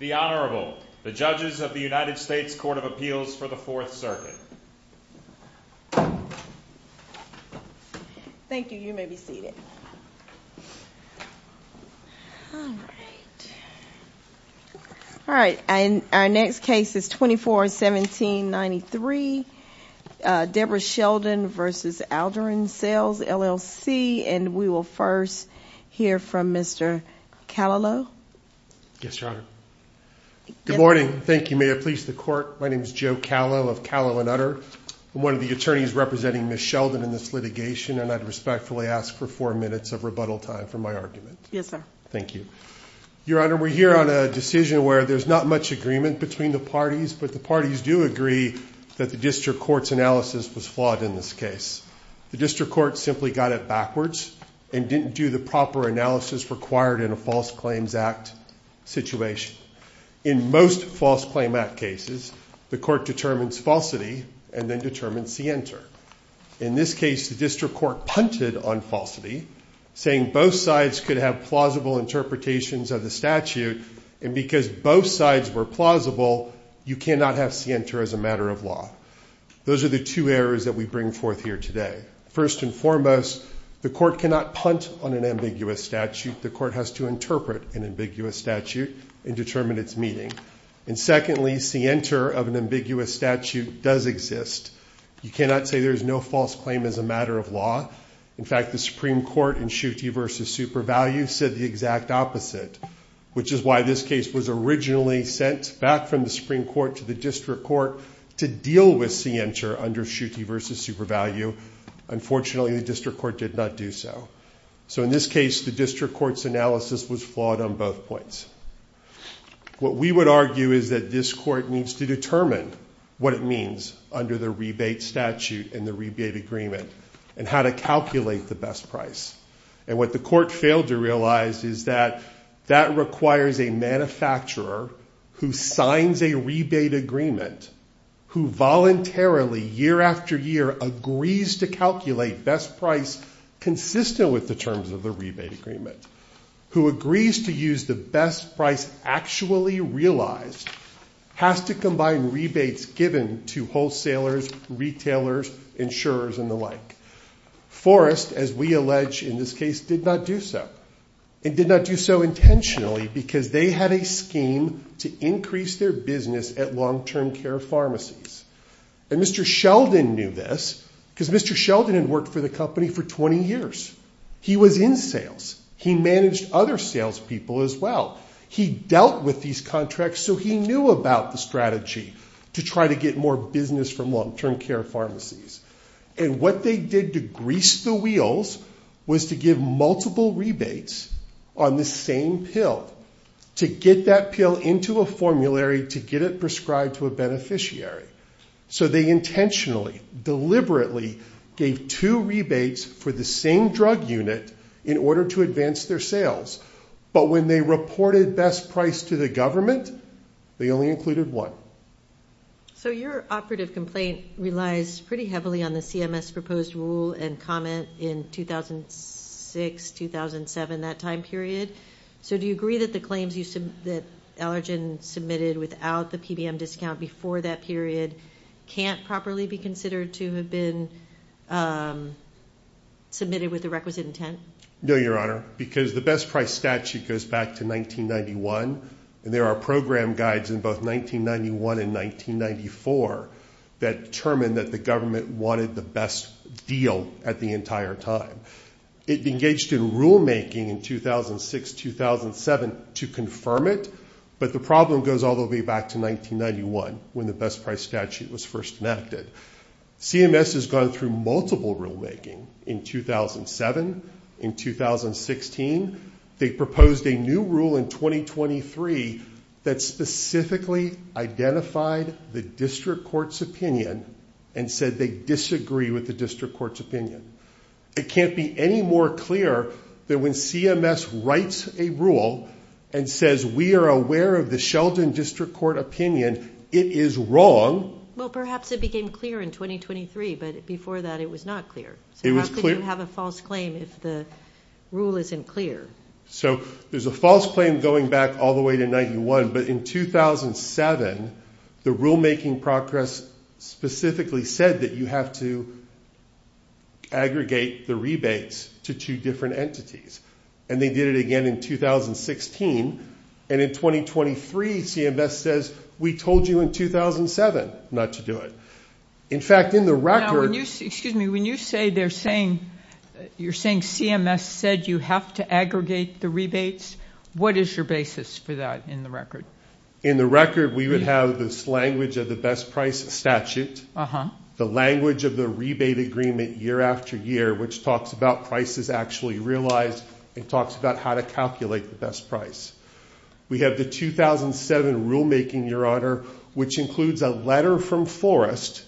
The Honorable, the Judges of the United States Court of Appeals for the Fourth Circuit. Thank you. You may be seated. All right. Our next case is 24-17-93. Deborah Sheldon v. Allergan Sales, LLC, and we will first hear from Mr. Callaloo. Yes, Your Honor. Good morning. Thank you. May it please the Court. My name is Joe Callaloo of Callaloo & Utter. I'm one of the attorneys representing Ms. Sheldon in this litigation, and I'd respectfully ask for four minutes of rebuttal time for my argument. Yes, sir. Thank you. Your Honor, we're here on a decision where there's not much agreement between the parties, but the parties do agree that the district court's analysis was flawed in this case. The district court simply got it backwards and didn't do the proper analysis required in a False Claims Act situation. In most False Claim Act cases, the court determines falsity and then determines scienter. In this case, the district court punted on falsity, saying both sides could have plausible interpretations of the statute, and because both sides were plausible, you cannot have scienter as a matter of law. Those are the two errors that we bring forth here today. First and foremost, the court cannot punt on an ambiguous statute. The court has to interpret an ambiguous statute and determine its meaning. And secondly, scienter of an ambiguous statute does exist. You cannot say there is no false claim as a matter of law. In fact, the Supreme Court in Schuette v. Super Value said the exact opposite, which is why this case was originally sent back from the Supreme Court to the district court to deal with scienter under Schuette v. Super Value. Unfortunately, the district court did not do so. So in this case, the district court's analysis was flawed on both points. What we would argue is that this court needs to determine what it means under the rebate statute and the rebate agreement and how to calculate the best price. And what the agreement, who voluntarily, year after year, agrees to calculate best price consistent with the terms of the rebate agreement, who agrees to use the best price actually realized, has to combine rebates given to wholesalers, retailers, insurers, and the like. Forrest, as we allege in this case, did not do so. It did not do so intentionally because they had a scheme to increase their business at long-term care pharmacies. And Mr. Sheldon knew this because Mr. Sheldon had worked for the company for 20 years. He was in sales. He managed other sales people as well. He dealt with these contracts, so he knew about the strategy to try to get more business from long-term care pharmacies. And what they did to grease the wheels was to give multiple rebates on the same pill to get that pill into a formulary to get it prescribed to a beneficiary. So they intentionally, deliberately gave two rebates for the same drug unit in order to advance their sales. But when they reported best price to the government, they only included one. So your operative complaint relies pretty heavily on the CMS proposed rule and comment in 2006-2007, that time period. So do you agree that the claims that Allergen submitted without the PBM discount before that period can't properly be considered to have been submitted with the requisite intent? No, Your Honor, because the best price statute goes back to 1991, and there are program guides in both 1991 and 1994 that determined that the government wanted the best deal at the entire time. It engaged in rulemaking in 2006-2007 to confirm it, but the problem goes all the way back to 1991 when the best price statute was first enacted. CMS has gone through multiple rulemaking in 2007, in 2016. They proposed a new rule in 2023 that specifically identified the district court's opinion and said they disagree with the district court's opinion. It can't be any more clear that when CMS writes a rule and says we are aware of district court opinion, it is wrong. Well, perhaps it became clear in 2023, but before that it was not clear. So how could you have a false claim if the rule isn't clear? So there's a false claim going back all the way to 1991, but in 2007, the rulemaking process specifically said that you have to aggregate the rebates to two different entities, and they did it again in 2016. And in 2023, CMS says we told you in 2007 not to do it. In fact, in the record... Excuse me, when you say they're saying, you're saying CMS said you have to aggregate the rebates, what is your basis for that in the record? In the record, we would have this language of the rebate agreement year after year, which talks about prices actually realized, and talks about how to calculate the best price. We have the 2007 rulemaking, Your Honor, which includes a letter from Forrest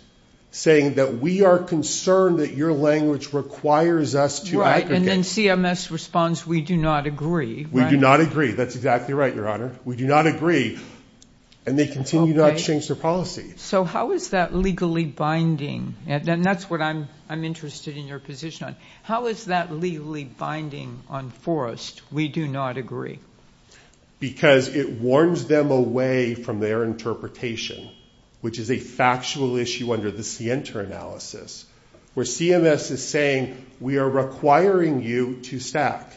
saying that we are concerned that your language requires us to... Right, and then CMS responds, we do not agree. We do not agree. That's exactly right, Your Honor. We do not agree, and they continue to exchange their policy. So how is that legally binding? And that's what I'm interested in your position on. How is that legally binding on Forrest? We do not agree. Because it warns them away from their interpretation, which is a factual issue under the Sienta analysis, where CMS is saying we are requiring you to stack.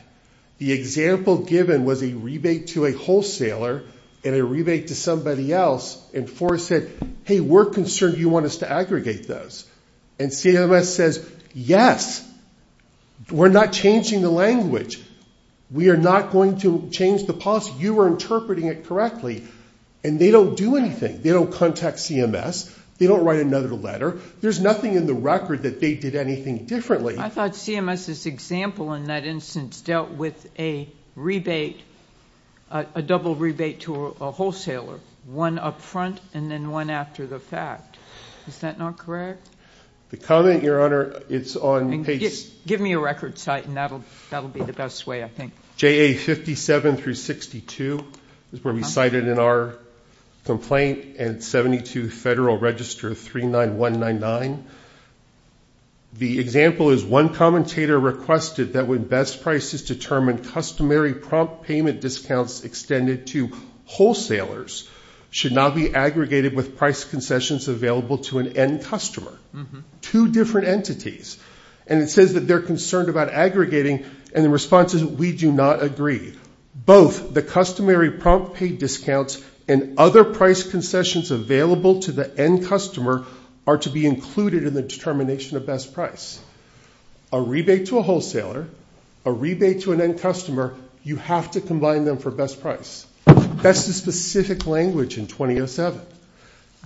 The example given was a rebate to a wholesaler and a rebate to somebody else, and Forrest said, we're concerned you want us to aggregate this. And CMS says, yes, we're not changing the language. We are not going to change the policy. You are interpreting it correctly, and they don't do anything. They don't contact CMS. They don't write another letter. There's nothing in the record that they did anything differently. I thought CMS's example in that instance dealt with a rebate, a double rebate to a wholesaler, one up front and then one after the fact. Is that not correct? The comment, Your Honor, it's on page... Give me a record site, and that'll be the best way, I think. JA57-62 is where we cite it in our complaint, and 72 Federal Register 39199. The example is one commentator requested that when best prices determine customary prompt payment discounts extended to wholesalers should not be aggregated with price concessions available to an end customer. Two different entities, and it says that they're concerned about aggregating, and the response is, we do not agree. Both the customary prompt pay discounts and other price concessions available to the end customer are to be included in the determination of best price. A rebate to a wholesaler, a rebate to an end customer, you have to combine them for best price. That's the specific language in 2007.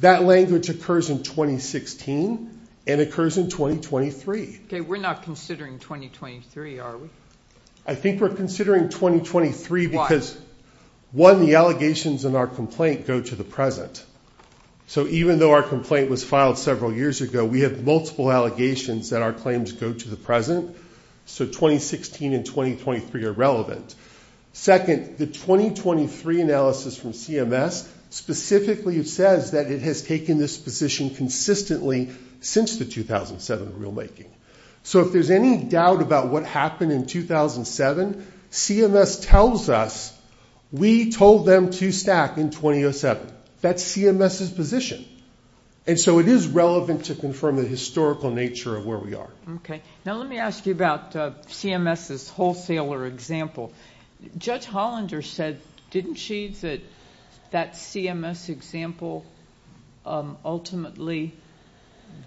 That language occurs in 2016 and occurs in 2023. Okay, we're not considering 2023, are we? I think we're considering 2023 because, one, the allegations in our complaint go to the present. So even though our complaint was filed several years ago, we have multiple allegations that our claims go to the present. So 2016 and 2023 are relevant. Second, the 2023 analysis from CMS specifically says that it has taken this position consistently since the 2007 rulemaking. So if there's any doubt about what happened in 2007, CMS tells us we told them to stack in 2007. That's CMS's position. And so it is relevant to confirm the historical nature of where we are. Okay. Now let me ask you about CMS's wholesaler example. Judge Hollander said, didn't she, that that CMS example ultimately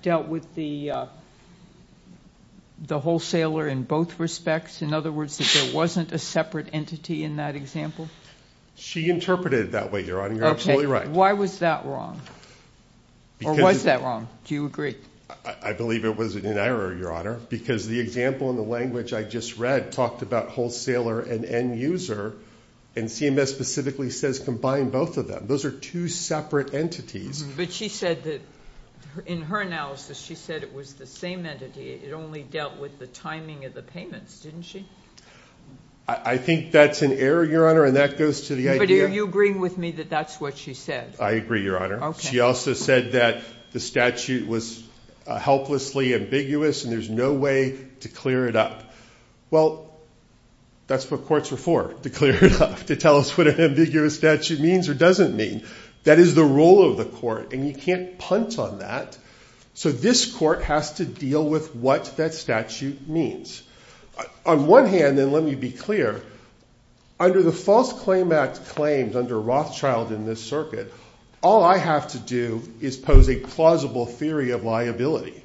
dealt with the wholesaler in both respects? In other words, that there wasn't a separate entity in that example? She interpreted it that way, Your Honor. You're absolutely right. Why was that wrong? Or was that wrong? Do you agree? I believe it was an error, Your Honor, because the example in the language I just read talked about wholesaler and end user, and CMS specifically says combine both of them. Those are two separate entities. But she said that in her analysis, she said it was the same entity. It only dealt with the timing of the payments, didn't she? I think that's an error, Your Honor, and that goes to the idea... But are you agreeing with me that that's what she said? I agree, Your Honor. She also said that the statute was helplessly ambiguous and there's no way to clear it up. Well, that's what courts are for, to clear it up, to tell us what an ambiguous statute means or doesn't mean. That is the role of the court, and you can't punt on that. So this court has to deal with what that statute means. On one hand, and let me be clear, under the False Claim Act claims under Rothschild in this circuit, all I have to do is pose a plausible theory of liability.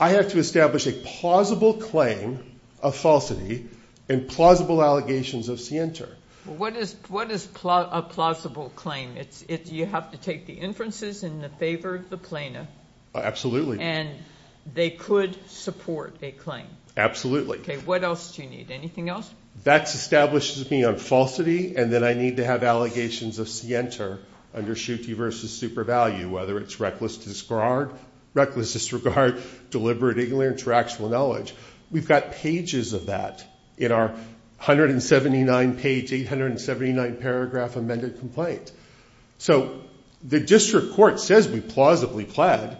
I have to establish a plausible claim of falsity and plausible allegations of scienter. What is a plausible claim? You have to take the inferences in the favor of the plaintiff. Absolutely. And they could support a claim. Absolutely. Okay, what else do you need? Anything else? That establishes me on falsity, and then I need to have allegations of scienter under Schutte v. Supervalue, whether it's reckless disregard, reckless disregard, deliberate ignorance, or actual knowledge. We've got pages of that in our 179-page, 879-paragraph amended complaint. So the district court says we plausibly pled,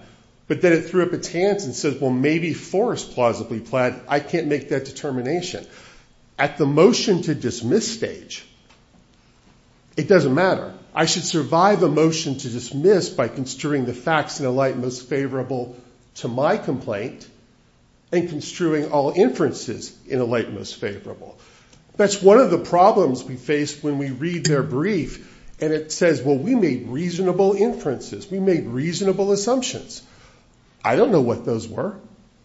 but then it threw up its hands and says, well, maybe Forrest plausibly pled. I can't make that determination. At the motion to dismiss stage, it doesn't matter. I should survive a motion to dismiss by construing the facts in a light most favorable to my complaint and construing all inferences in a light most favorable. That's one of the problems we face when we read their brief, and it says, well, we made reasonable inferences. We made reasonable assumptions. I don't know what those were.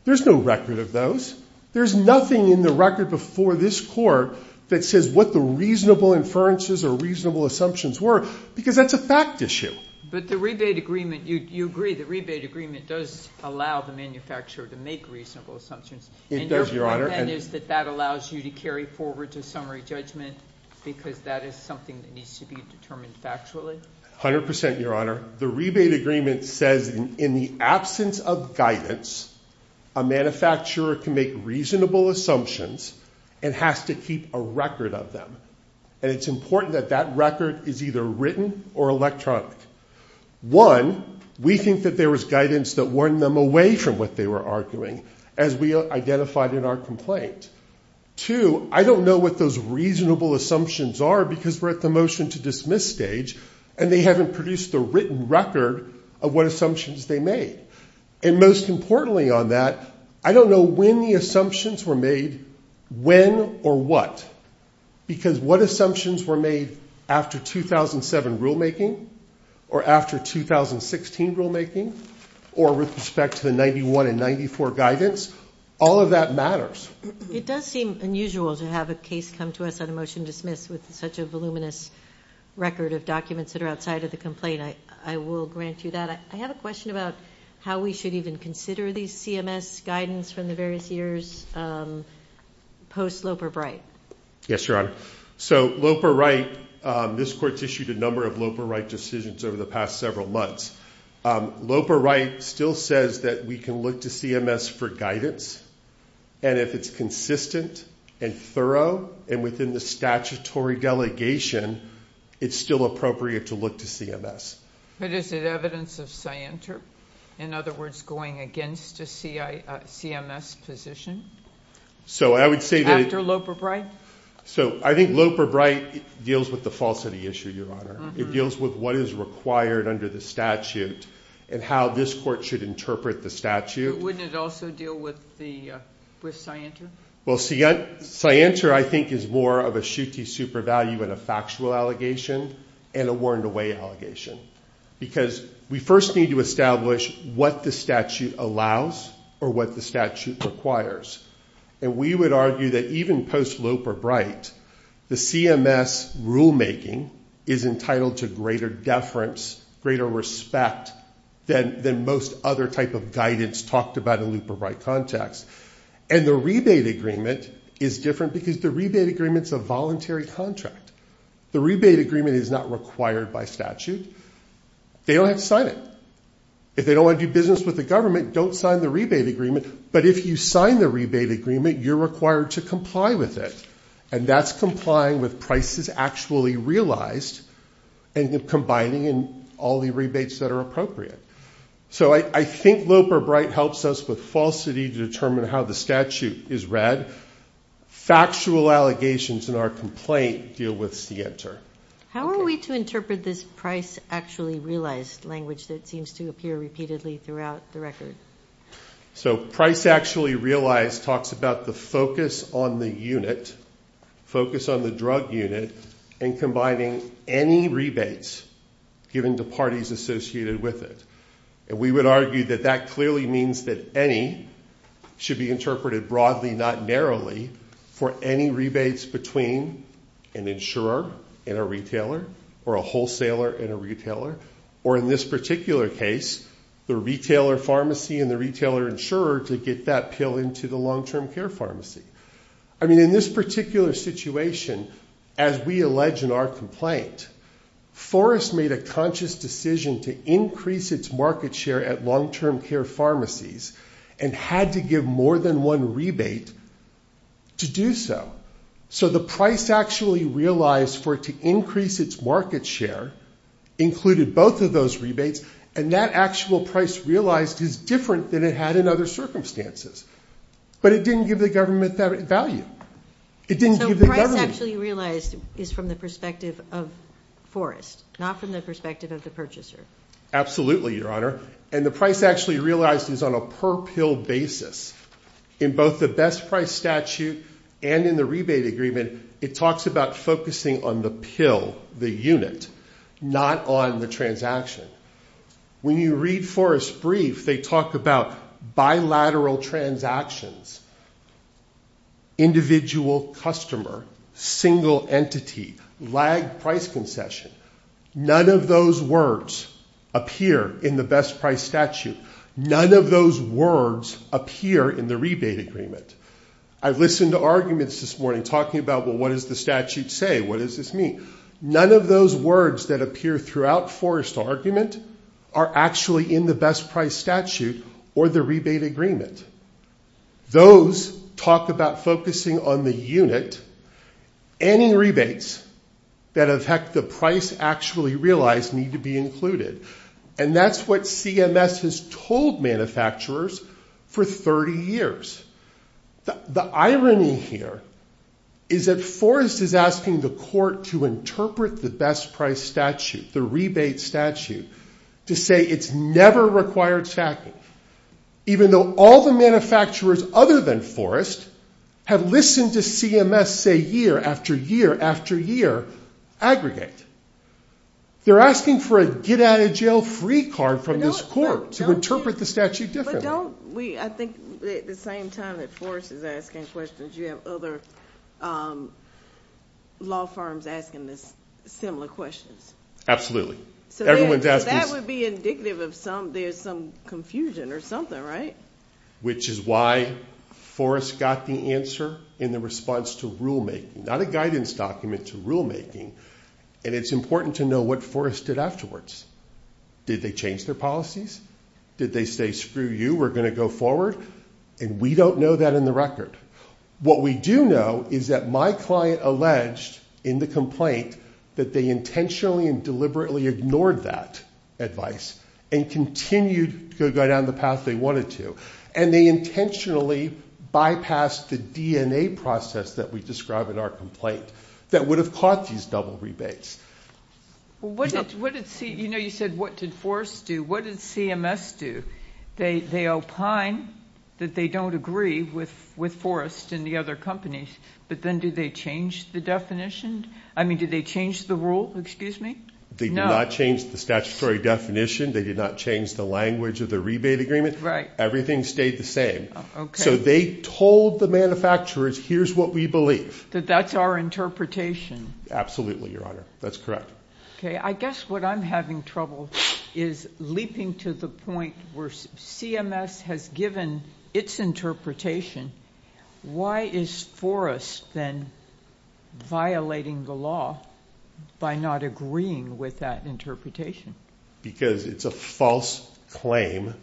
There's no record of those. There's nothing in the record before this court that says what the reasonable inferences or reasonable assumptions were, because that's a fact issue. But the rebate agreement, you agree the rebate agreement does allow the manufacturer to make reasonable assumptions. It does, Your Honor. And is that that allows you to carry forward to summary judgment because that is something that needs to be determined factually? 100%, Your Honor. The rebate agreement says in the absence of guidance, a manufacturer can make reasonable assumptions and has to keep a record of them. And it's important that that record is either written or electronic. One, we think that there was guidance that warned them away from what they were arguing as we identified in our complaint. Two, I don't know what those reasonable assumptions are because we're at the motion to dismiss stage, and they haven't produced the written record of what assumptions they made. And most importantly on that, I don't know when the assumptions were made, when or what, because what assumptions were made after 2007 rulemaking or after 2016 rulemaking or with respect to the 91 and 94 guidance, all of that matters. It does seem unusual to have a case come to us on a motion to dismiss with such a voluminous record of documents that are outside of the complaint. I will grant you that. I have a question about how we should even consider these CMS guidance from the various years post-Loper Wright. Yes, Your Honor. So Loper Wright, this court's issued a number of Loper Wright decisions over the past several months. Loper Wright still says that we can look to CMS for guidance, and if it's consistent and thorough and within the statutory delegation, it's still appropriate to look to CMS. But is it evidence of scienter? In other words, going against a CMS position? So I would say that... After Loper Wright? So I think Loper Wright deals with the falsity issue, Your Honor. It deals with what is required under the statute and how this court should interpret the statute. Wouldn't it also deal with scienter? Well, scienter, I think, is more of a shooty super value and a factual allegation and a worn away allegation. Because we first need to establish what the statute allows or what the statute requires. And we would argue that even post-Loper Wright, the CMS rulemaking is entitled to greater deference, greater respect than most other type of guidance talked about in Loper Wright context. And the rebate agreement is different because the rebate agreement's a voluntary contract. The rebate agreement is not required by statute. They don't have to sign it. If they don't want to do business with the government, don't sign the rebate agreement. But if you sign the rebate agreement, you're required to comply with it. And that's complying with prices actually realized and combining in all the rebates that are appropriate. So I think Loper Bright helps us with falsity to determine how the statute is read. Factual allegations in our complaint deal with scienter. How are we to interpret this price actually realized language that seems to appear repeatedly throughout the record? So price actually realized talks about the focus on the unit, focus on the drug unit and combining any rebates given to parties associated with it. And we would argue that that clearly means that any should be interpreted broadly, not narrowly for any rebates between an insurer and a retailer or a wholesaler and a retailer. Or in this particular case, the retailer pharmacy and the retailer insurer to get that pill into the long-term care pharmacy. I mean, in this particular situation, as we allege in our complaint, Forrest made a conscious decision to increase its market share at long-term care pharmacies and had to give more than one rebate to do so. So the price actually realized for it to increase its market share included both of those rebates. And that actual price realized is different than it had in other circumstances, but it didn't give the government that value. It didn't give the government. So price actually realized is from the perspective of Forrest, not from the perspective of the purchaser. Absolutely, your honor. And the price actually realized is on a per pill basis in both the best price statute and in the rebate agreement. It talks about focusing on the pill, the unit, not on the transaction. When you read Forrest's brief, they talk about bilateral transactions, individual customer, single entity, lagged price concession. None of those words appear in the best price statute. None of those words appear in the rebate agreement. I've listened to arguments this morning talking about, well, what does the statute say? What does this mean? None of those words that appear throughout Forrest's argument are actually in the best price statute or the rebate agreement. Those talk about focusing on the unit, any rebates that affect the price actually realized need to be included. And that's what CMS has told manufacturers for 30 years. The irony here is that Forrest is asking the court to interpret the best price statute, the rebate statute, to say it's never required stacking. Even though all the manufacturers other than Forrest have listened to CMS say year after year after year, aggregate. They're asking for a get out of jail free card from this court to interpret the statute differently. But don't we, I think at the same time that Forrest is asking questions, you have other law firms asking this similar questions. Absolutely. So that would be indicative of some, there's some confusion or something, right? Which is why Forrest got the answer in the response to rulemaking, not a guidance document to rulemaking. And it's important to know what Forrest did afterwards. Did they change their policies? Did they say, screw you, we're going to go forward? And we don't know that in the record. What we do know is that my client alleged in the complaint that they intentionally and deliberately ignored that advice and continued to go down the path they wanted to. And they intentionally bypassed the DNA process that we describe in our complaint that would have caught these double rebates. Well, what did, you know, you said what did Forrest do? What did CMS do? They opine that they don't agree with Forrest and the other companies, but then do they change the definition? I mean, did they change the rule? Excuse me? They did not change the statutory definition. They did not change the language of the rebate agreement. Everything stayed the same. So they told the manufacturers, here's what we believe. That that's our interpretation. Absolutely, Your Honor. That's correct. Okay. I guess what I'm having trouble is leaping to the point where CMS has given its interpretation. Why is Forrest then violating the law by not agreeing with that interpretation? Because it's a false claim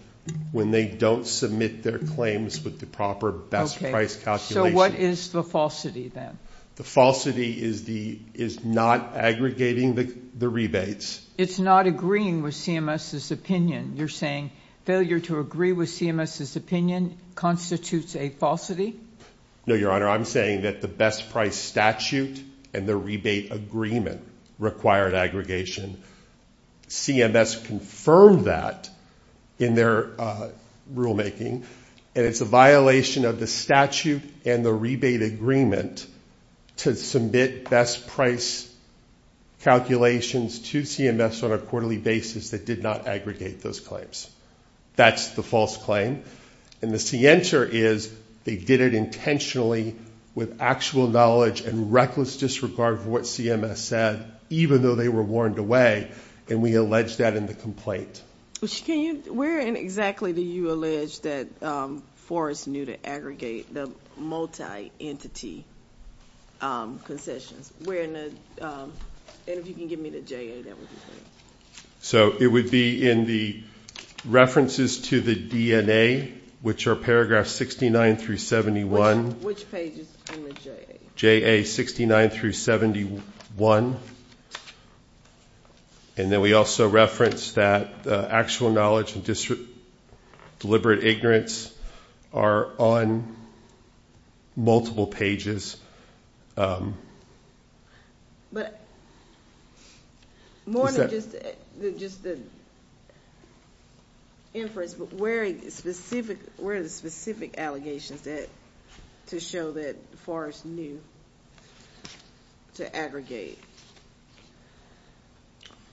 when they don't submit their claims with the proper best price calculation. What is the falsity then? The falsity is not aggregating the rebates. It's not agreeing with CMS's opinion. You're saying failure to agree with CMS's opinion constitutes a falsity? No, Your Honor. I'm saying that the best price statute and the rebate agreement required aggregation. CMS confirmed that in their rulemaking, and it's a violation of the statute and the rebate agreement to submit best price calculations to CMS on a quarterly basis that did not aggregate those claims. That's the false claim. And the answer is they did it intentionally with actual knowledge and reckless disregard for what CMS said, even though they were warned away. And we allege that in the Forrest knew to aggregate the multi-entity concessions. And if you can give me the J.A., that would be great. So it would be in the references to the DNA, which are paragraphs 69 through 71. Which page is in the J.A.? J.A. 69 through 71. And then we also reference that actual knowledge and deliberate ignorance are on multiple pages. But more than just the inference, but where are the specific allegations to show that Forrest knew to aggregate?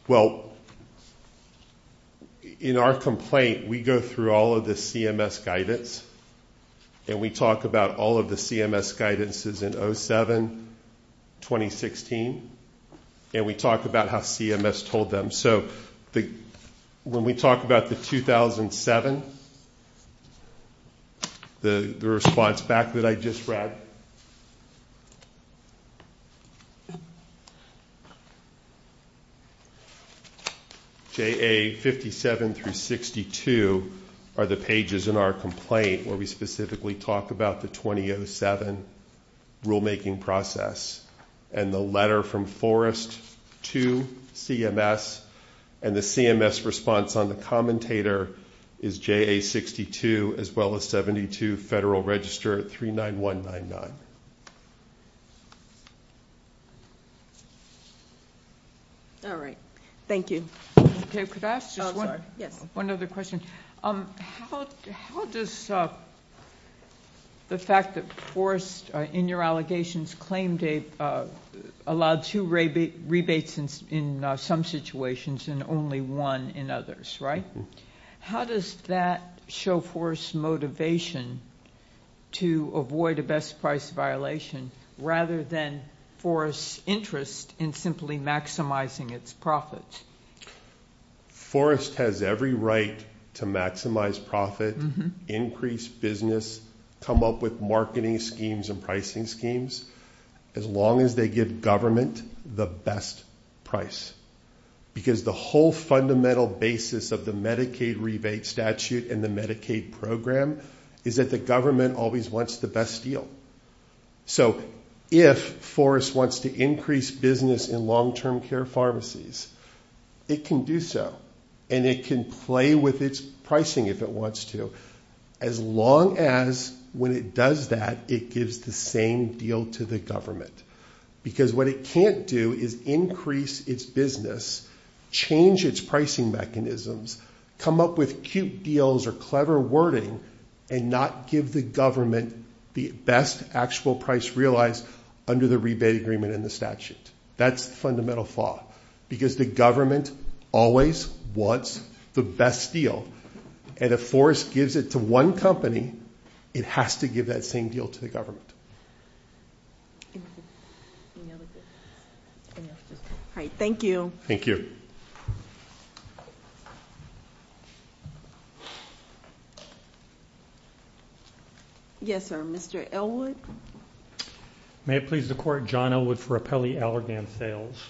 Well, in our complaint, we go through all of the CMS guidance, and we talk about all of the CMS guidances in 07-2016, and we talk about how CMS told them. So the when we talk about the 2007, the response back that I just read, J.A. 57 through 62 are the pages in our complaint where we specifically talk about the 2007 rulemaking process. And the letter from Forrest to CMS and the CMS response on the commentator is J.A. 62 as well as 72 Federal Register 39199. All right. Thank you. Okay. Could I ask just one other question? How does the fact that Forrest, in your allegations, allowed two rebates in some situations and only one in others, right? How does that show Forrest's motivation to avoid a best price violation rather than Forrest's interest in simply maximizing its profits? Forrest has every right to maximize profit, increase business, come up with marketing schemes and pricing schemes, as long as they give government the best price. Because the whole fundamental basis of the Medicaid rebate statute and the Medicaid program is that the government always wants the best deal. So if Forrest wants to increase business in long-term care pharmacies, it can do so. And it can play with its pricing if it wants to, as long as when it does that, it gives the same deal to the government. Because what it can't do is increase its business, change its pricing mechanisms, come up with cute deals or clever wording and not give the government the best actual price realized under the rebate agreement in the statute. That's the fundamental flaw. Because the government always wants the best deal. And if Forrest gives it to one company, it has to give that same deal to the government. All right. Thank you. Thank you. Yes, sir. Mr. Elwood. May it please the court, John Elwood for Appelli Allergan Sales.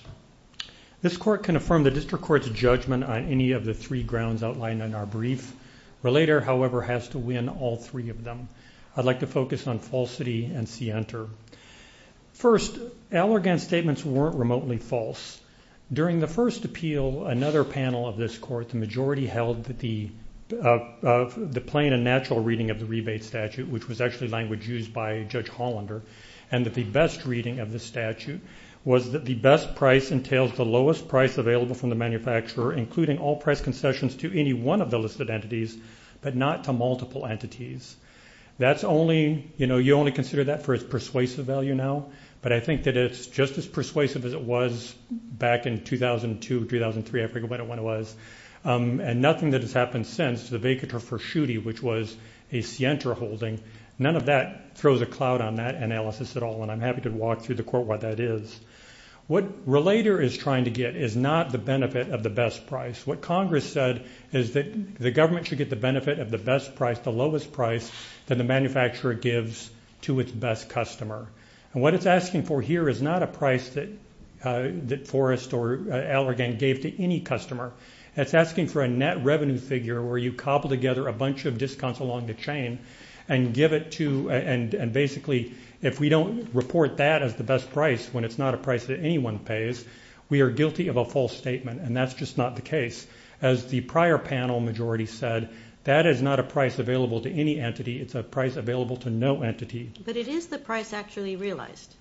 This court can affirm the district court's judgment on any of the three grounds outlined in our brief. Relator, however, has to win all three of them. I'd like to focus on falsity and see enter. First, Allergan's statements weren't remotely false. During the first appeal, another panel of this court, the majority held that the plain and natural reading of the rebate statute, which was actually language used by Judge Hollander, and that the best reading of the statute was that the best price entails the lowest price available from the manufacturer, including all price concessions to any one of the listed entities, but not to multiple entities. That's only, you know, you only consider that for its persuasive value now. But I think that it's just as persuasive as it was back in 2002, 2003, I forget when it was. And nothing that has happened since, the vacatur for Schutte, which was a Sienter holding, none of that throws a cloud on that analysis at all. And I'm happy to walk through the court what that is. What Relator is trying to get is not the benefit of the best price. What Congress said is that the government should get the benefit of the best price, the lowest price that the manufacturer gives to its best customer. And what it's asking for here is not a price that Forrest or Allergan gave to any customer. It's asking for a net revenue figure where you cobble together a bunch of discounts along the chain and give it to, and basically, if we don't report that as the best price when it's not a price that anyone pays, we are guilty of a false statement. And that's just not the case. As the prior panel majority said, that is not a price available to any entity. It's a price available to no entity. But it is the price actually realized.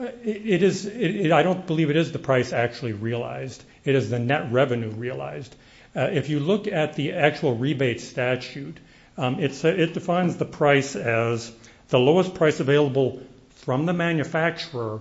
It is. I don't believe it is the price actually realized. It is the net revenue realized. If you look at the actual rebate statute, it defines the price as the lowest price available from the manufacturer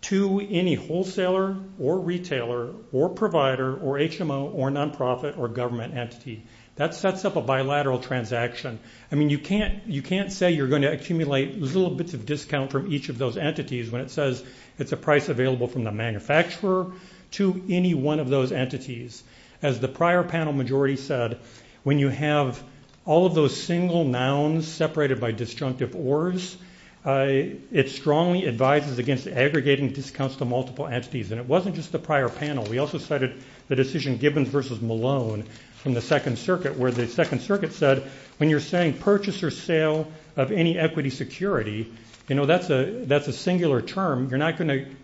to any wholesaler or retailer or provider or HMO or nonprofit or government entity. That sets up a bilateral transaction. I mean, you can't say you're going to accumulate little bits of discount from each of those entities when it says it's a price available from the manufacturer to any one of those entities. As the prior panel majority said, when you have all of those single nouns separated by disjunctive orders, it strongly advises against aggregating discounts to multiple entities. And it wasn't just the prior panel. We also cited the decision Gibbons versus Malone from the Second Circuit, where the Second Circuit said, when you're saying purchase or sale of any equity security, that's a singular term. You're not going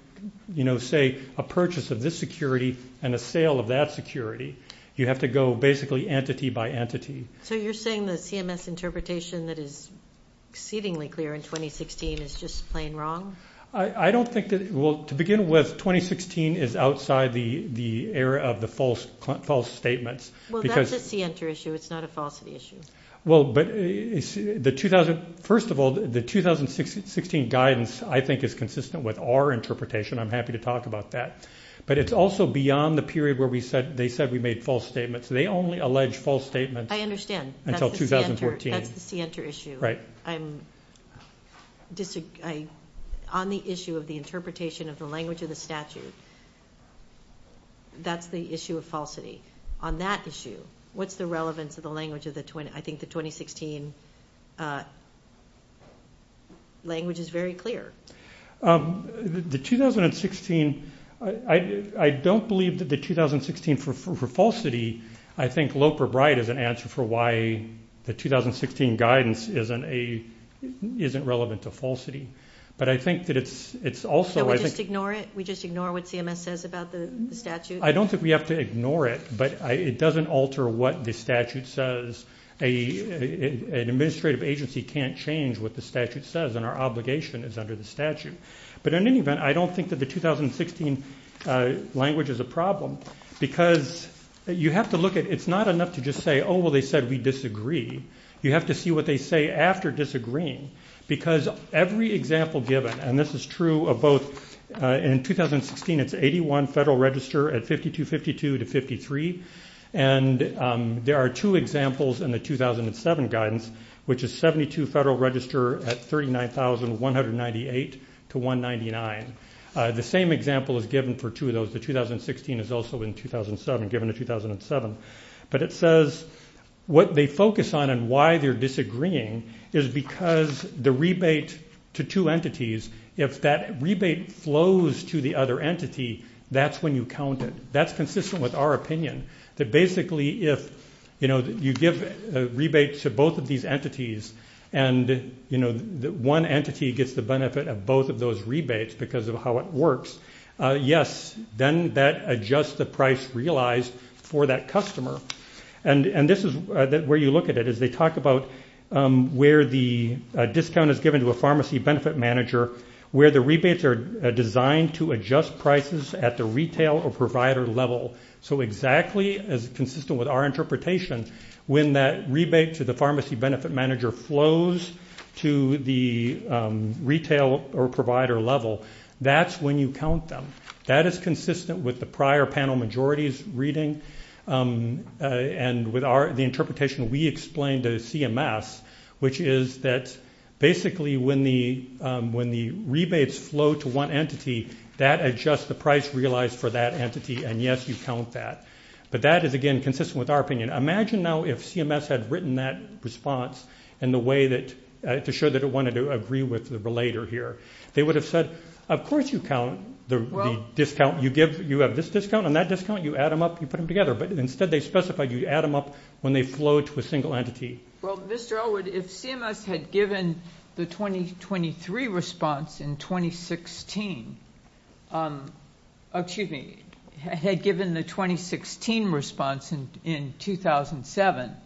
to say a purchase of this security and a sale of that security. You have to go basically entity by entity. So you're saying the CMS interpretation that is exceedingly clear in 2016 is just plain wrong? I don't think that... Well, to begin with, 2016 is outside the era of the false statements. Well, that's a CNTR issue. It's not a falsity issue. Well, but first of all, the 2016 guidance I think is consistent with our interpretation. I'm happy to talk about that. But it's also beyond the period where they said we made false statements. They only allege false statements until 2014. I understand. That's the CNTR issue. Right. On the issue of the interpretation of the language of the statute, that's the issue of falsity. On that issue, what's the relevance of the language of the... I think the 2016 language is very clear. The 2016... I don't believe that the 2016 for falsity, I think Loper-Bride is an answer for why the 2016 guidance isn't relevant to falsity. But I think that it's also... So we just ignore it? We just ignore what CMS says about the statute? I don't think we have to ignore it, but it doesn't alter what the statute says. An administrative agency can't change what the statute says and our obligation is under the statute. But in any event, I don't think that the 2016 language is a problem because you have to look at... It's not enough to just say, oh, well, they said we disagree. You have to see what they say after disagreeing because every example given, and this is true of both... In 2016, it's 81 Federal Register at 5252 to 53. And there are two examples in the 2007 guidance, which is 72 Federal Register at 39,198 to 199. The same example is given for two of those. The 2016 is also in 2007, given to 2007. But it says what they focus on and why they're disagreeing is because the rebate to two entities, if that rebate flows to the other entity, that's when you count it. That's consistent with our opinion, that basically if you give rebates to both of these entities and one entity gets the benefit of both of those rebates because of how it works, yes, then that adjusts the price realized for that customer. And this is where you look at it as they talk about where the discount is given to a pharmacy benefit manager, where the rebates are designed to adjust prices at the retail or provider level. So exactly as consistent with our interpretation, when that rebate to the pharmacy benefit manager flows to the retail or provider level, that's when you count them. That is with the prior panel majorities reading and with the interpretation we explained to CMS, which is that basically when the rebates flow to one entity, that adjusts the price realized for that entity, and yes, you count that. But that is, again, consistent with our opinion. Imagine now if CMS had written that response to show that it wanted to agree with the relator here. They would have said, of course you count the discount. You have this discount and that discount, you add them up, you put them together. But instead they specified you add them up when they flow to a single entity. Well, Mr. Elwood, if CMS had given the 2023 response in 2016, excuse me, had given the 2016 response in 2007,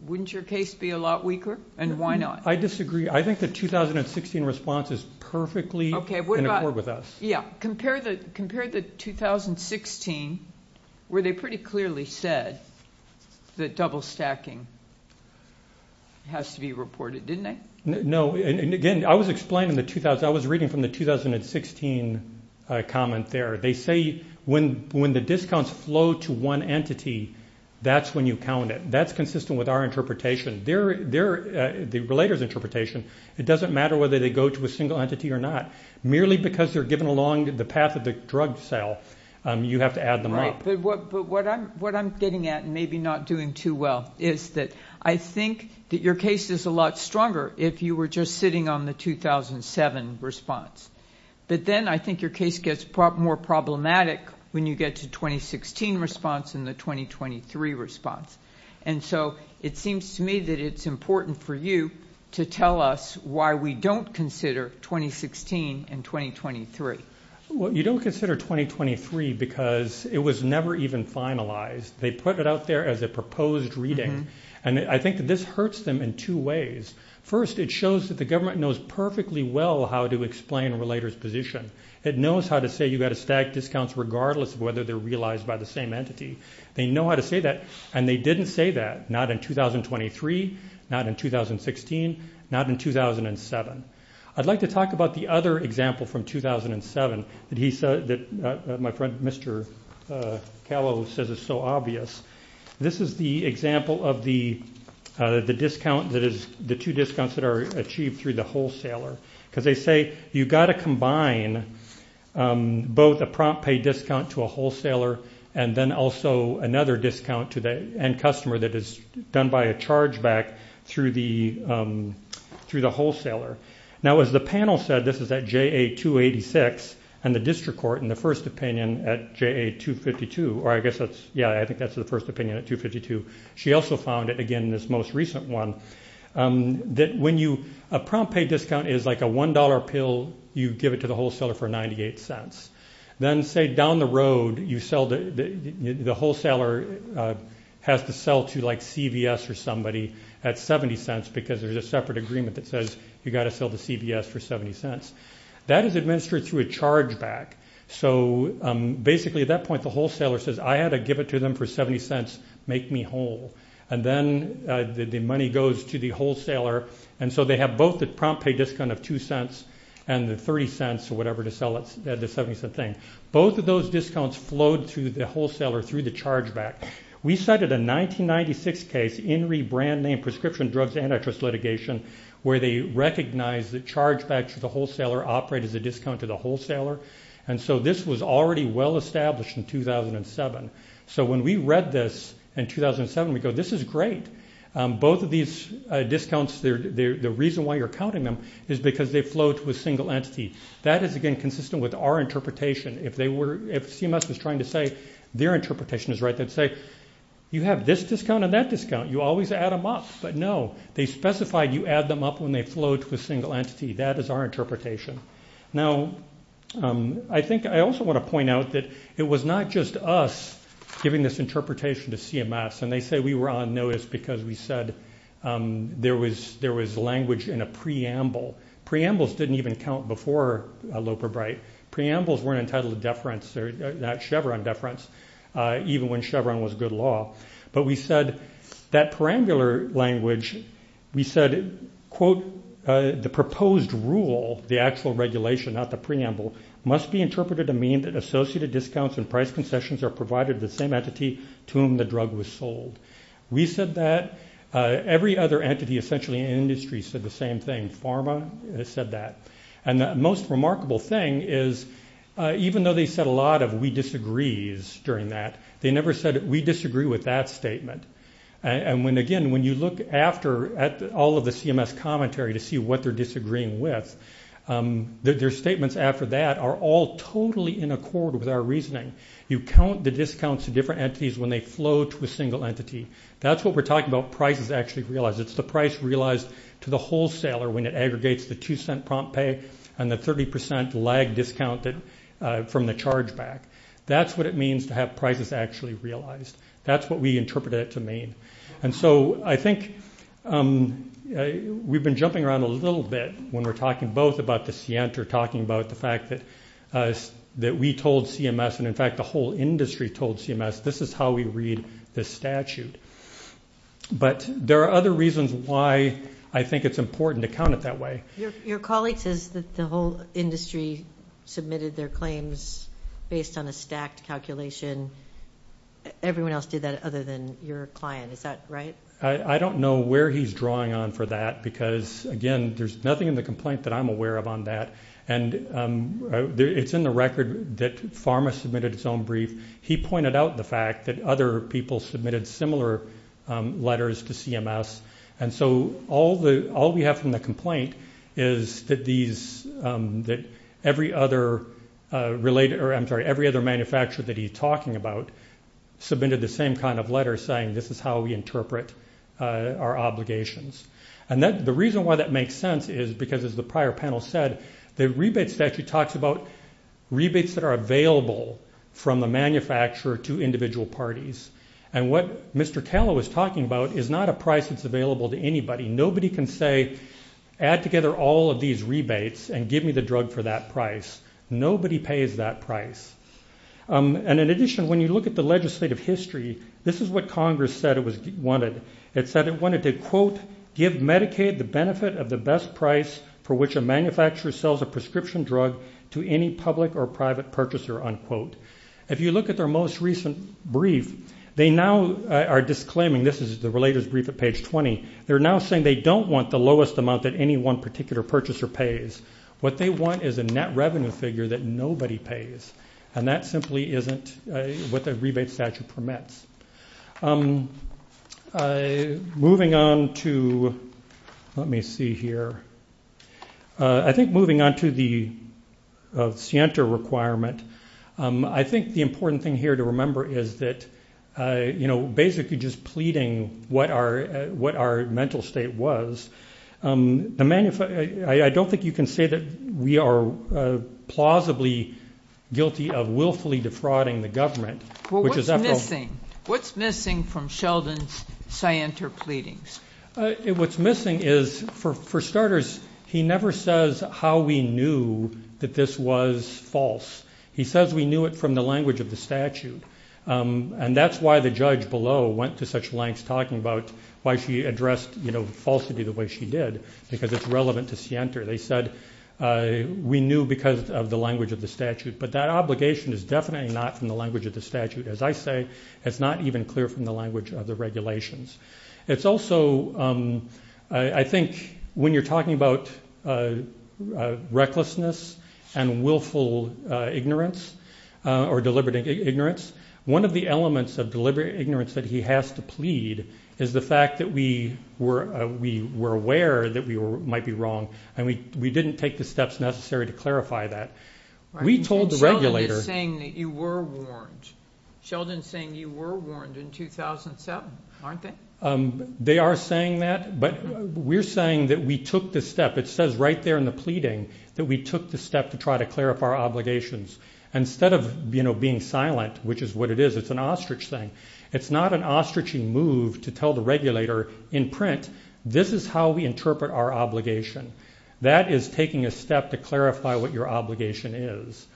wouldn't your case be a lot weaker and why not? I disagree. I think the 2016 response is perfectly in accord with us. Yeah. Compare the 2016 where they pretty clearly said that double stacking has to be reported, didn't they? No. And again, I was reading from the 2016 comment there. They say when the discounts flow to one entity, that's when you count it. That's interpretation. It doesn't matter whether they go to a single entity or not. Merely because they're given along the path of the drug sale, you have to add them up. Right. But what I'm getting at, and maybe not doing too well, is that I think that your case is a lot stronger if you were just sitting on the 2007 response. But then I think your case gets more problematic when you get to 2016 response and the 2023 response. And so it seems to me that it's important for you to tell us why we don't consider 2016 and 2023. Well, you don't consider 2023 because it was never even finalized. They put it out there as a proposed reading. And I think that this hurts them in two ways. First, it shows that the government knows perfectly well how to explain a relator's position. It knows how to say you got to stack discounts regardless of whether they're realized by the same entity. They know how to say that. And they didn't say that. Not in 2023, not in 2016, not in 2007. I'd like to talk about the other example from 2007 that my friend Mr. Callow says is so obvious. This is the example of the discount that is the two discounts that are achieved through the wholesaler. Because they say you've got to combine both a prompt pay discount to a wholesaler and then also another discount and customer that is done by a charge back through the wholesaler. Now, as the panel said, this is at JA-286 and the district court in the first opinion at JA-252, or I guess that's, yeah, I think that's the first opinion at 252. She also found it again in this most recent one that when you, a prompt pay discount is like a $1 pill, you give it to the wholesaler for 98 cents. Then say down the road, the wholesaler has to sell to like CVS or somebody at 70 cents because there's a separate agreement that says you got to sell to CVS for 70 cents. That is administered through a charge back. So basically at that point, the wholesaler says I had to give it to them for 70 cents, make me whole. And then the money goes to the wholesaler. And so they have both the prompt pay discount of 2 cents and the 30 cents or whatever to sell it at the 70 cent thing. Both of those discounts flowed through the wholesaler through the charge back. We cited a 1996 case, INRI brand name prescription drugs antitrust litigation, where they recognize the charge back to the wholesaler operate as a discount to the wholesaler. And so this was already well established in 2007. So when we read this in 2007, we go, this is great. Both of these discounts, the reason why you're counting them is because they flow to a single entity. That is, again, consistent with our interpretation. If CMS was trying to say their interpretation is right, they'd say you have this discount and that discount, you always add them up. But no, they specified you add them up when they flow to a single entity. That is our interpretation. Now, I think I also want to point out that it was not just us giving this interpretation to CMS. And they say we were on notice because we said there was language in a preamble. Preambles didn't even count before Loper Bright. Preambles weren't entitled to deference, that Chevron deference, even when Chevron was good law. But we said that perambular language, we said, quote, the proposed rule, the actual regulation, not the preamble, must be interpreted to mean that associated discounts and price concessions are provided to the same entity to whom the drug was sold. We said that. Every other entity essentially in industry said the same thing. Pharma said that. And the most remarkable thing is, even though they said a lot of we disagrees during that, they never said we disagree with that statement. And again, when you look after at all of the CMS commentary to see what they're disagreeing with, their statements after that are all totally in accord with our reasoning. You count the different entities when they flow to a single entity. That's what we're talking about, prices actually realized. It's the price realized to the wholesaler when it aggregates the two-cent prompt pay and the 30% lag discounted from the chargeback. That's what it means to have prices actually realized. That's what we interpreted it to mean. And so I think we've been jumping around a little bit when we're talking both about the scient or talking about the fact that that we told CMS and in fact the whole industry told CMS this is how we read the statute. But there are other reasons why I think it's important to count it that way. Your colleague says that the whole industry submitted their claims based on a stacked calculation. Everyone else did that other than your client. Is that right? I don't know where he's drawing on for that because again, there's nothing in the complaint that I'm aware of on that. It's in the record that Pharma submitted its own brief. He pointed out the fact that other people submitted similar letters to CMS. And so all we have from the complaint is that every other manufacturer that he's talking about submitted the same kind of letter saying this is how we interpret our obligations. And the reason why that makes sense is because as the prior panel said, the rebate statute talks about rebates that are available from the manufacturer to individual parties. And what Mr. Tallow is talking about is not a price that's available to anybody. Nobody can say add together all of these rebates and give me the drug for that price. Nobody pays that price. And in addition, when you look at the legislative history, this is what Congress said it wanted. It said it wanted to quote give Medicaid the benefit of the best price for which a manufacturer sells a prescription drug to any public or private purchaser, unquote. If you look at their most recent brief, they now are disclaiming this is the related brief at page 20. They're now saying they don't want the lowest amount that any one particular purchaser pays. What they want is a net revenue figure that nobody pays. And that simply isn't what the rebate statute permits. Moving on to, let me see here. I think moving on to the scienter requirement, I think the important thing here to remember is that basically just pleading what our mental state was, I don't think you can say that we are plausibly guilty of willfully defrauding the government. What's missing from Sheldon's scienter pleadings? What's missing is, for starters, he never says how we knew that this was false. He says we knew it from the language of the statute. And that's why the judge below went to such lengths talking about why she addressed falsity the way she did, because it's relevant to scienter. They said we knew because of the language of the statute. But that obligation is definitely not from the language of the statute. As I say, it's not even clear from the language of the regulations. It's also, I think when you're talking about recklessness and willful ignorance or deliberate ignorance, one of the elements of deliberate ignorance that he has to plead is the fact that we were aware that we might be wrong, and we didn't take the steps necessary to clarify that. We told the regulator... Sheldon is saying that you were warned. Sheldon is saying you were warned in 2007, aren't they? They are saying that, but we're saying that we took the step. It says right there in the pleading that we took the step to try to clarify our obligations. Instead of being silent, which is what it is, it's an ostrich thing. It's not an ostrichy move to tell the regulator in print this is how we interpret our obligation. That is taking a step to clarify what your obligation is.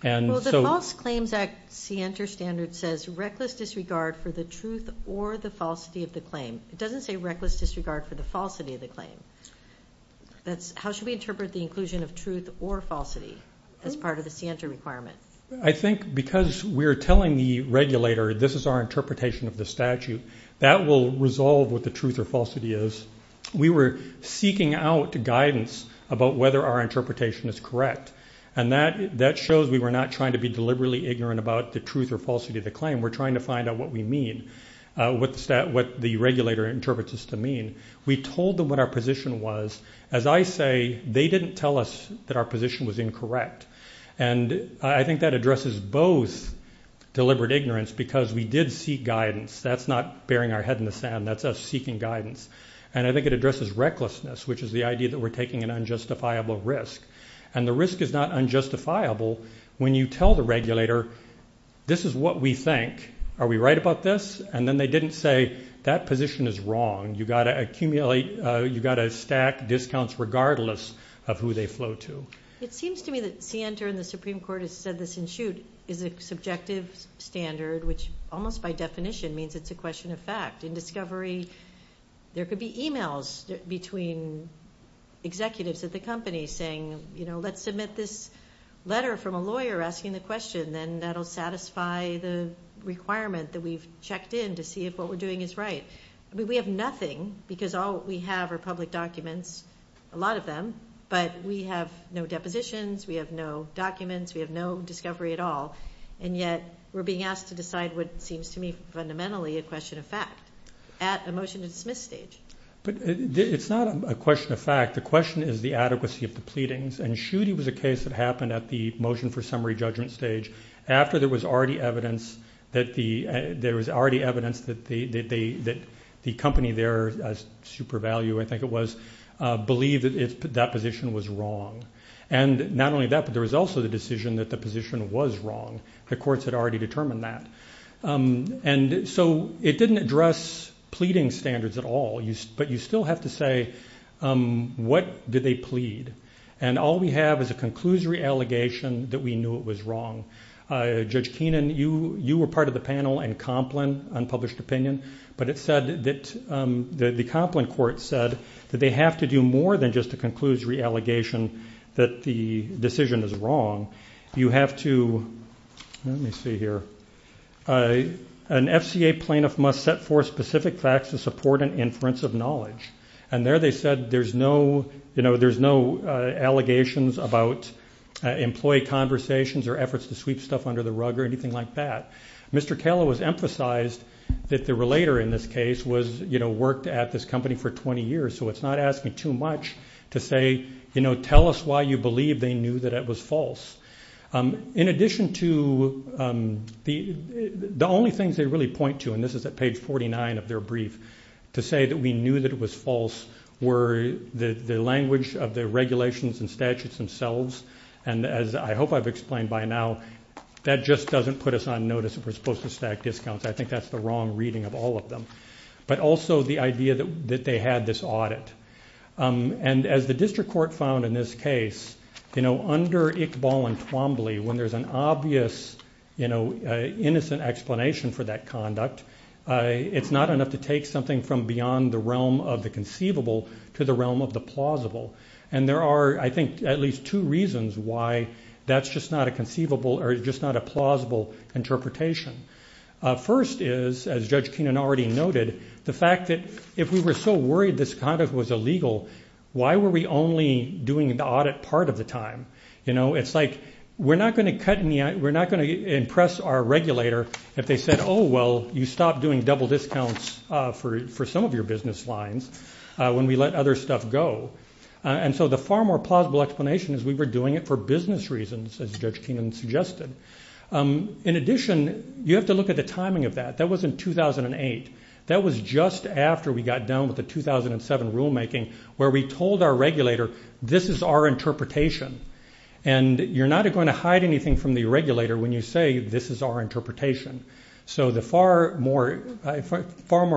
The False Claims Act scienter standard says reckless disregard for the truth or the falsity of the claim. It doesn't say reckless disregard for the falsity of the claim. How should we interpret the inclusion of truth or falsity as part of the scienter requirement? I think because we're telling the regulator this is our interpretation of the statute, that will resolve what the truth or falsity is. We were seeking out guidance about whether our interpretation is correct. That shows we were not trying to be deliberately ignorant about the truth or falsity of the claim. We're trying to find out what we mean, what the regulator interprets this to mean. We told them what our position was. As I say, they didn't tell us that our position was incorrect. I think that addresses both deliberate ignorance because we did seek guidance. That's not burying our head in the sand. That's us seeking guidance. I think it addresses recklessness, which is the idea that we're taking an unjustifiable risk. The risk is not unjustifiable when you tell the regulator, this is what we think. Are we right about this? Then they didn't say that position is wrong. You've got to stack discounts regardless of who they flow to. It seems to me that Sienta and the Supreme Court has said this in shoot is a subjective standard, which almost by definition means it's a question of fact. In discovery, there could be emails between executives at the company saying, let's submit this letter from a lawyer asking the question. Then that'll satisfy the requirement that we've checked in to see if what we're doing is right. We have nothing because all we have are public documents, a lot of them, but we have no depositions, we have no documents, we have no discovery at all. Yet, we're being asked to decide what seems to me fundamentally a question of fact at a motion to dismiss stage. It's not a question of fact. The question is the adequacy of the pleadings. Shootie was a case that happened at the motion for summary judgment stage after there was already evidence that the company there, Super Value I think it was, believed that that position was wrong. Not only that, but there was also the decision that the position was wrong. The courts had already determined that. It didn't address pleading standards at all, but you still have to say, what did they plead? All we have is a conclusory allegation that we knew it was wrong. Judge Decomplin court said that they have to do more than just a conclusory allegation that the decision is wrong. You have to, let me see here, an FCA plaintiff must set forth specific facts to support an inference of knowledge. There they said there's no allegations about employee conversations or efforts to sweep stuff under the rug or anything like that. Mr. Kala was emphasized that the relator in this case worked at this company for 20 years, so it's not asking too much to say, tell us why you believe they knew that it was false. In addition to, the only things they really point to, and this is at page 49 of their brief, to say that we knew that it was false were the language of the regulations and statutes themselves. And as I hope I've explained by now, that just doesn't put us on notice if we're supposed to stack discounts. I think that's the wrong reading of all of them, but also the idea that they had this audit. And as the district court found in this case, under Iqbal and Twombly, when there's an obvious, innocent explanation for that conduct, it's not enough to take something from beyond the realm of the conceivable to the realm of plausible. And there are, I think, at least two reasons why that's just not a conceivable or just not a plausible interpretation. First is, as Judge Keenan already noted, the fact that if we were so worried this conduct was illegal, why were we only doing the audit part of the time? It's like, we're not going to impress our regulator if they said, oh, well, you stopped doing double discounts for some of your business lines when we let other stuff go. And so the far more plausible explanation is we were doing it for business reasons, as Judge Keenan suggested. In addition, you have to look at the timing of that. That was in 2008. That was just after we got done with the 2007 rulemaking, where we told our regulator, this is our interpretation. And you're not going hide anything from the regulator when you say, this is our interpretation. So the far more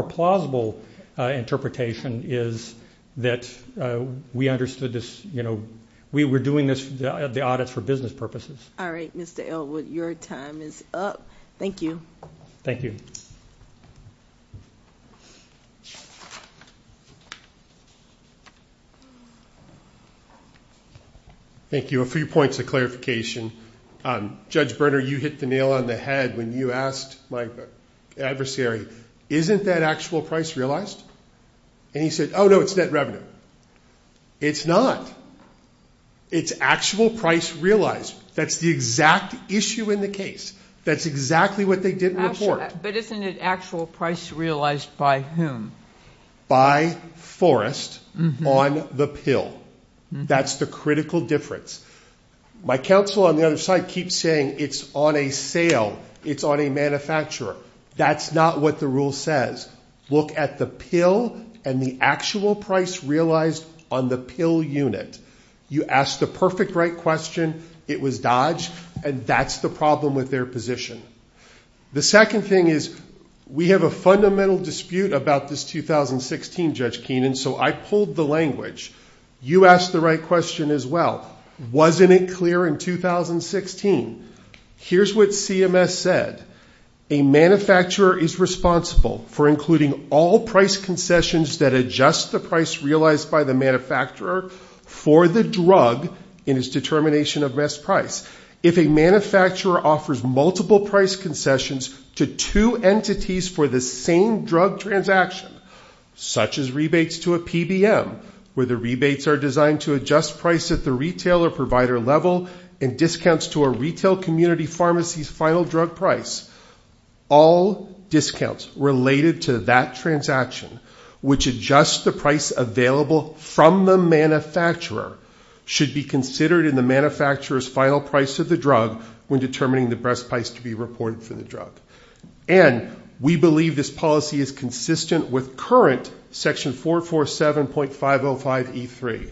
plausible interpretation is that we understood this, we were doing this, the audits for business purposes. All right, Mr. Elwood, your time is up. Thank you. Thank you. Thank you. A few points of clarification. Judge Berner, you hit the nail on the head when you asked my adversary, isn't that actual price realized? And he said, oh, no, it's net revenue. It's not. It's actual price realized. That's the exact issue in the case. That's exactly what they didn't report. But isn't it actual price realized by whom? By Forrest on the pill. That's the critical difference. My counsel on the other side keeps saying it's on a sale. It's on a manufacturer. That's not what the rule says. Look at the pill and the actual price realized on the pill unit. You asked the perfect right question. It was Dodge. And that's the problem with their position. The second thing is we have a fundamental dispute about this 2016, Judge Keenan. So I pulled the language. You asked the right question as well. Wasn't it clear in 2016? Here's what CMS said. A manufacturer is responsible for including all price concessions that adjust the price realized by the manufacturer for the drug in his determination of best price. If a manufacturer offers multiple price concessions to two entities for the same drug transaction, such as rebates to a PBM, where the rebates are designed to adjust price at the retailer provider level and discounts to a retail community pharmacy's final drug price, all discounts related to that transaction, which adjusts the price available from the manufacturer, should be considered in the manufacturer's final price of the drug when determining the best price to be reported for the drug. And we believe this policy is consistent with current section 447.505E3.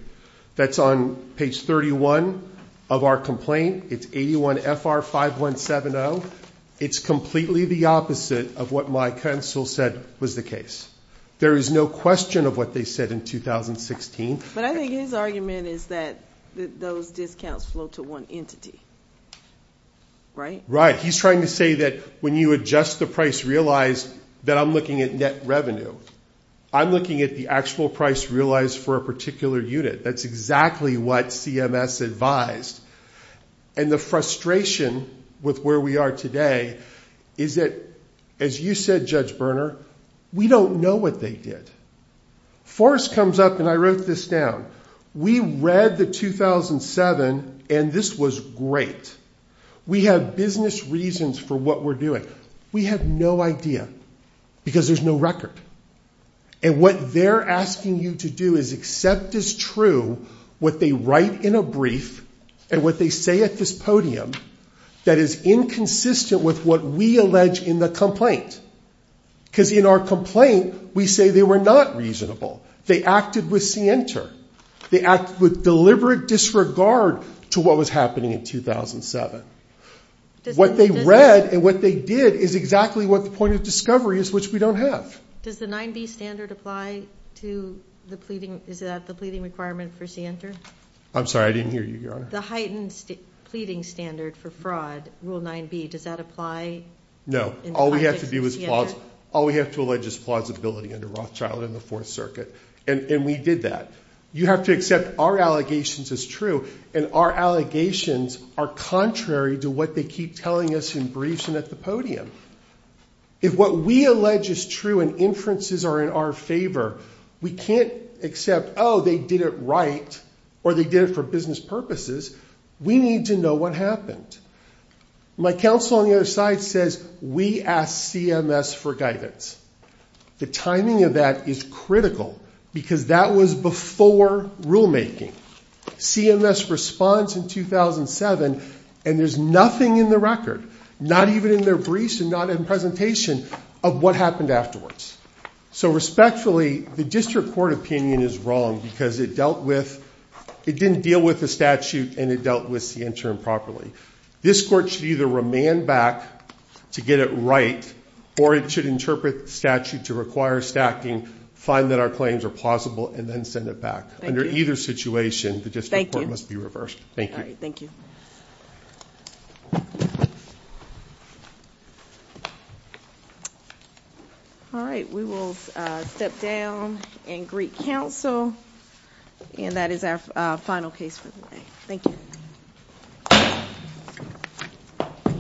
That's on page 31 of our complaint. It's 81FR5170. It's completely the opposite of what my counsel said was the case. There is no question of what they said in 2016. But I think his argument is that those discounts flow to one entity, right? Right. He's trying to say that when you adjust the price realized, that I'm looking at net revenue. I'm looking at the actual price realized for a particular unit. That's exactly what CMS advised. And the frustration with where we are today is that, as you said, Judge Berner, we don't know what they did. Forrest comes up and I wrote this down. We read the 2007 and this was great. We have business reasons for what we're doing. We have no idea because there's no record. And what they're asking you to do is accept as true what they write in a brief and what they say at this podium that is inconsistent with what we allege in the complaint. Because in our complaint, we say they were not reasonable. They acted with scienter. They acted with deliberate disregard to what was happening in 2007. What they read and what they did is exactly what the point of discovery is, which we don't have. Does the 9B standard apply to the pleading? Is that the pleading requirement for scienter? I'm sorry, I didn't hear you, Your Honor. The heightened pleading standard for fraud, rule 9B, does that apply? No. All we have to allege is plausibility under Rothschild and the Fourth Circuit. And we did that. You have to accept our allegations as true and our allegations are contrary to what they keep telling us in briefs and at the podium. If what we allege is true and inferences are in our favor, we can't accept, oh, they did it right or they did it for business purposes. We need to know what happened. My counsel on the other side says we asked CMS for guidance. The timing of that is critical because that was before rulemaking. CMS responds in 2007 and there's nothing in the record, not even in their briefs and not in presentation, of what happened afterwards. So respectfully, the district court opinion is wrong because it dealt with, it didn't deal with the statute and it dealt with scienter improperly. This court should either remand back to get it right or it should interpret statute to require stacking, find that our claims are plausible, and then send it back. Under either situation, the district court must be reversed. Thank you. All right. Thank you. All right. We will step down and greet counsel and that is our final case for the day. Thank you.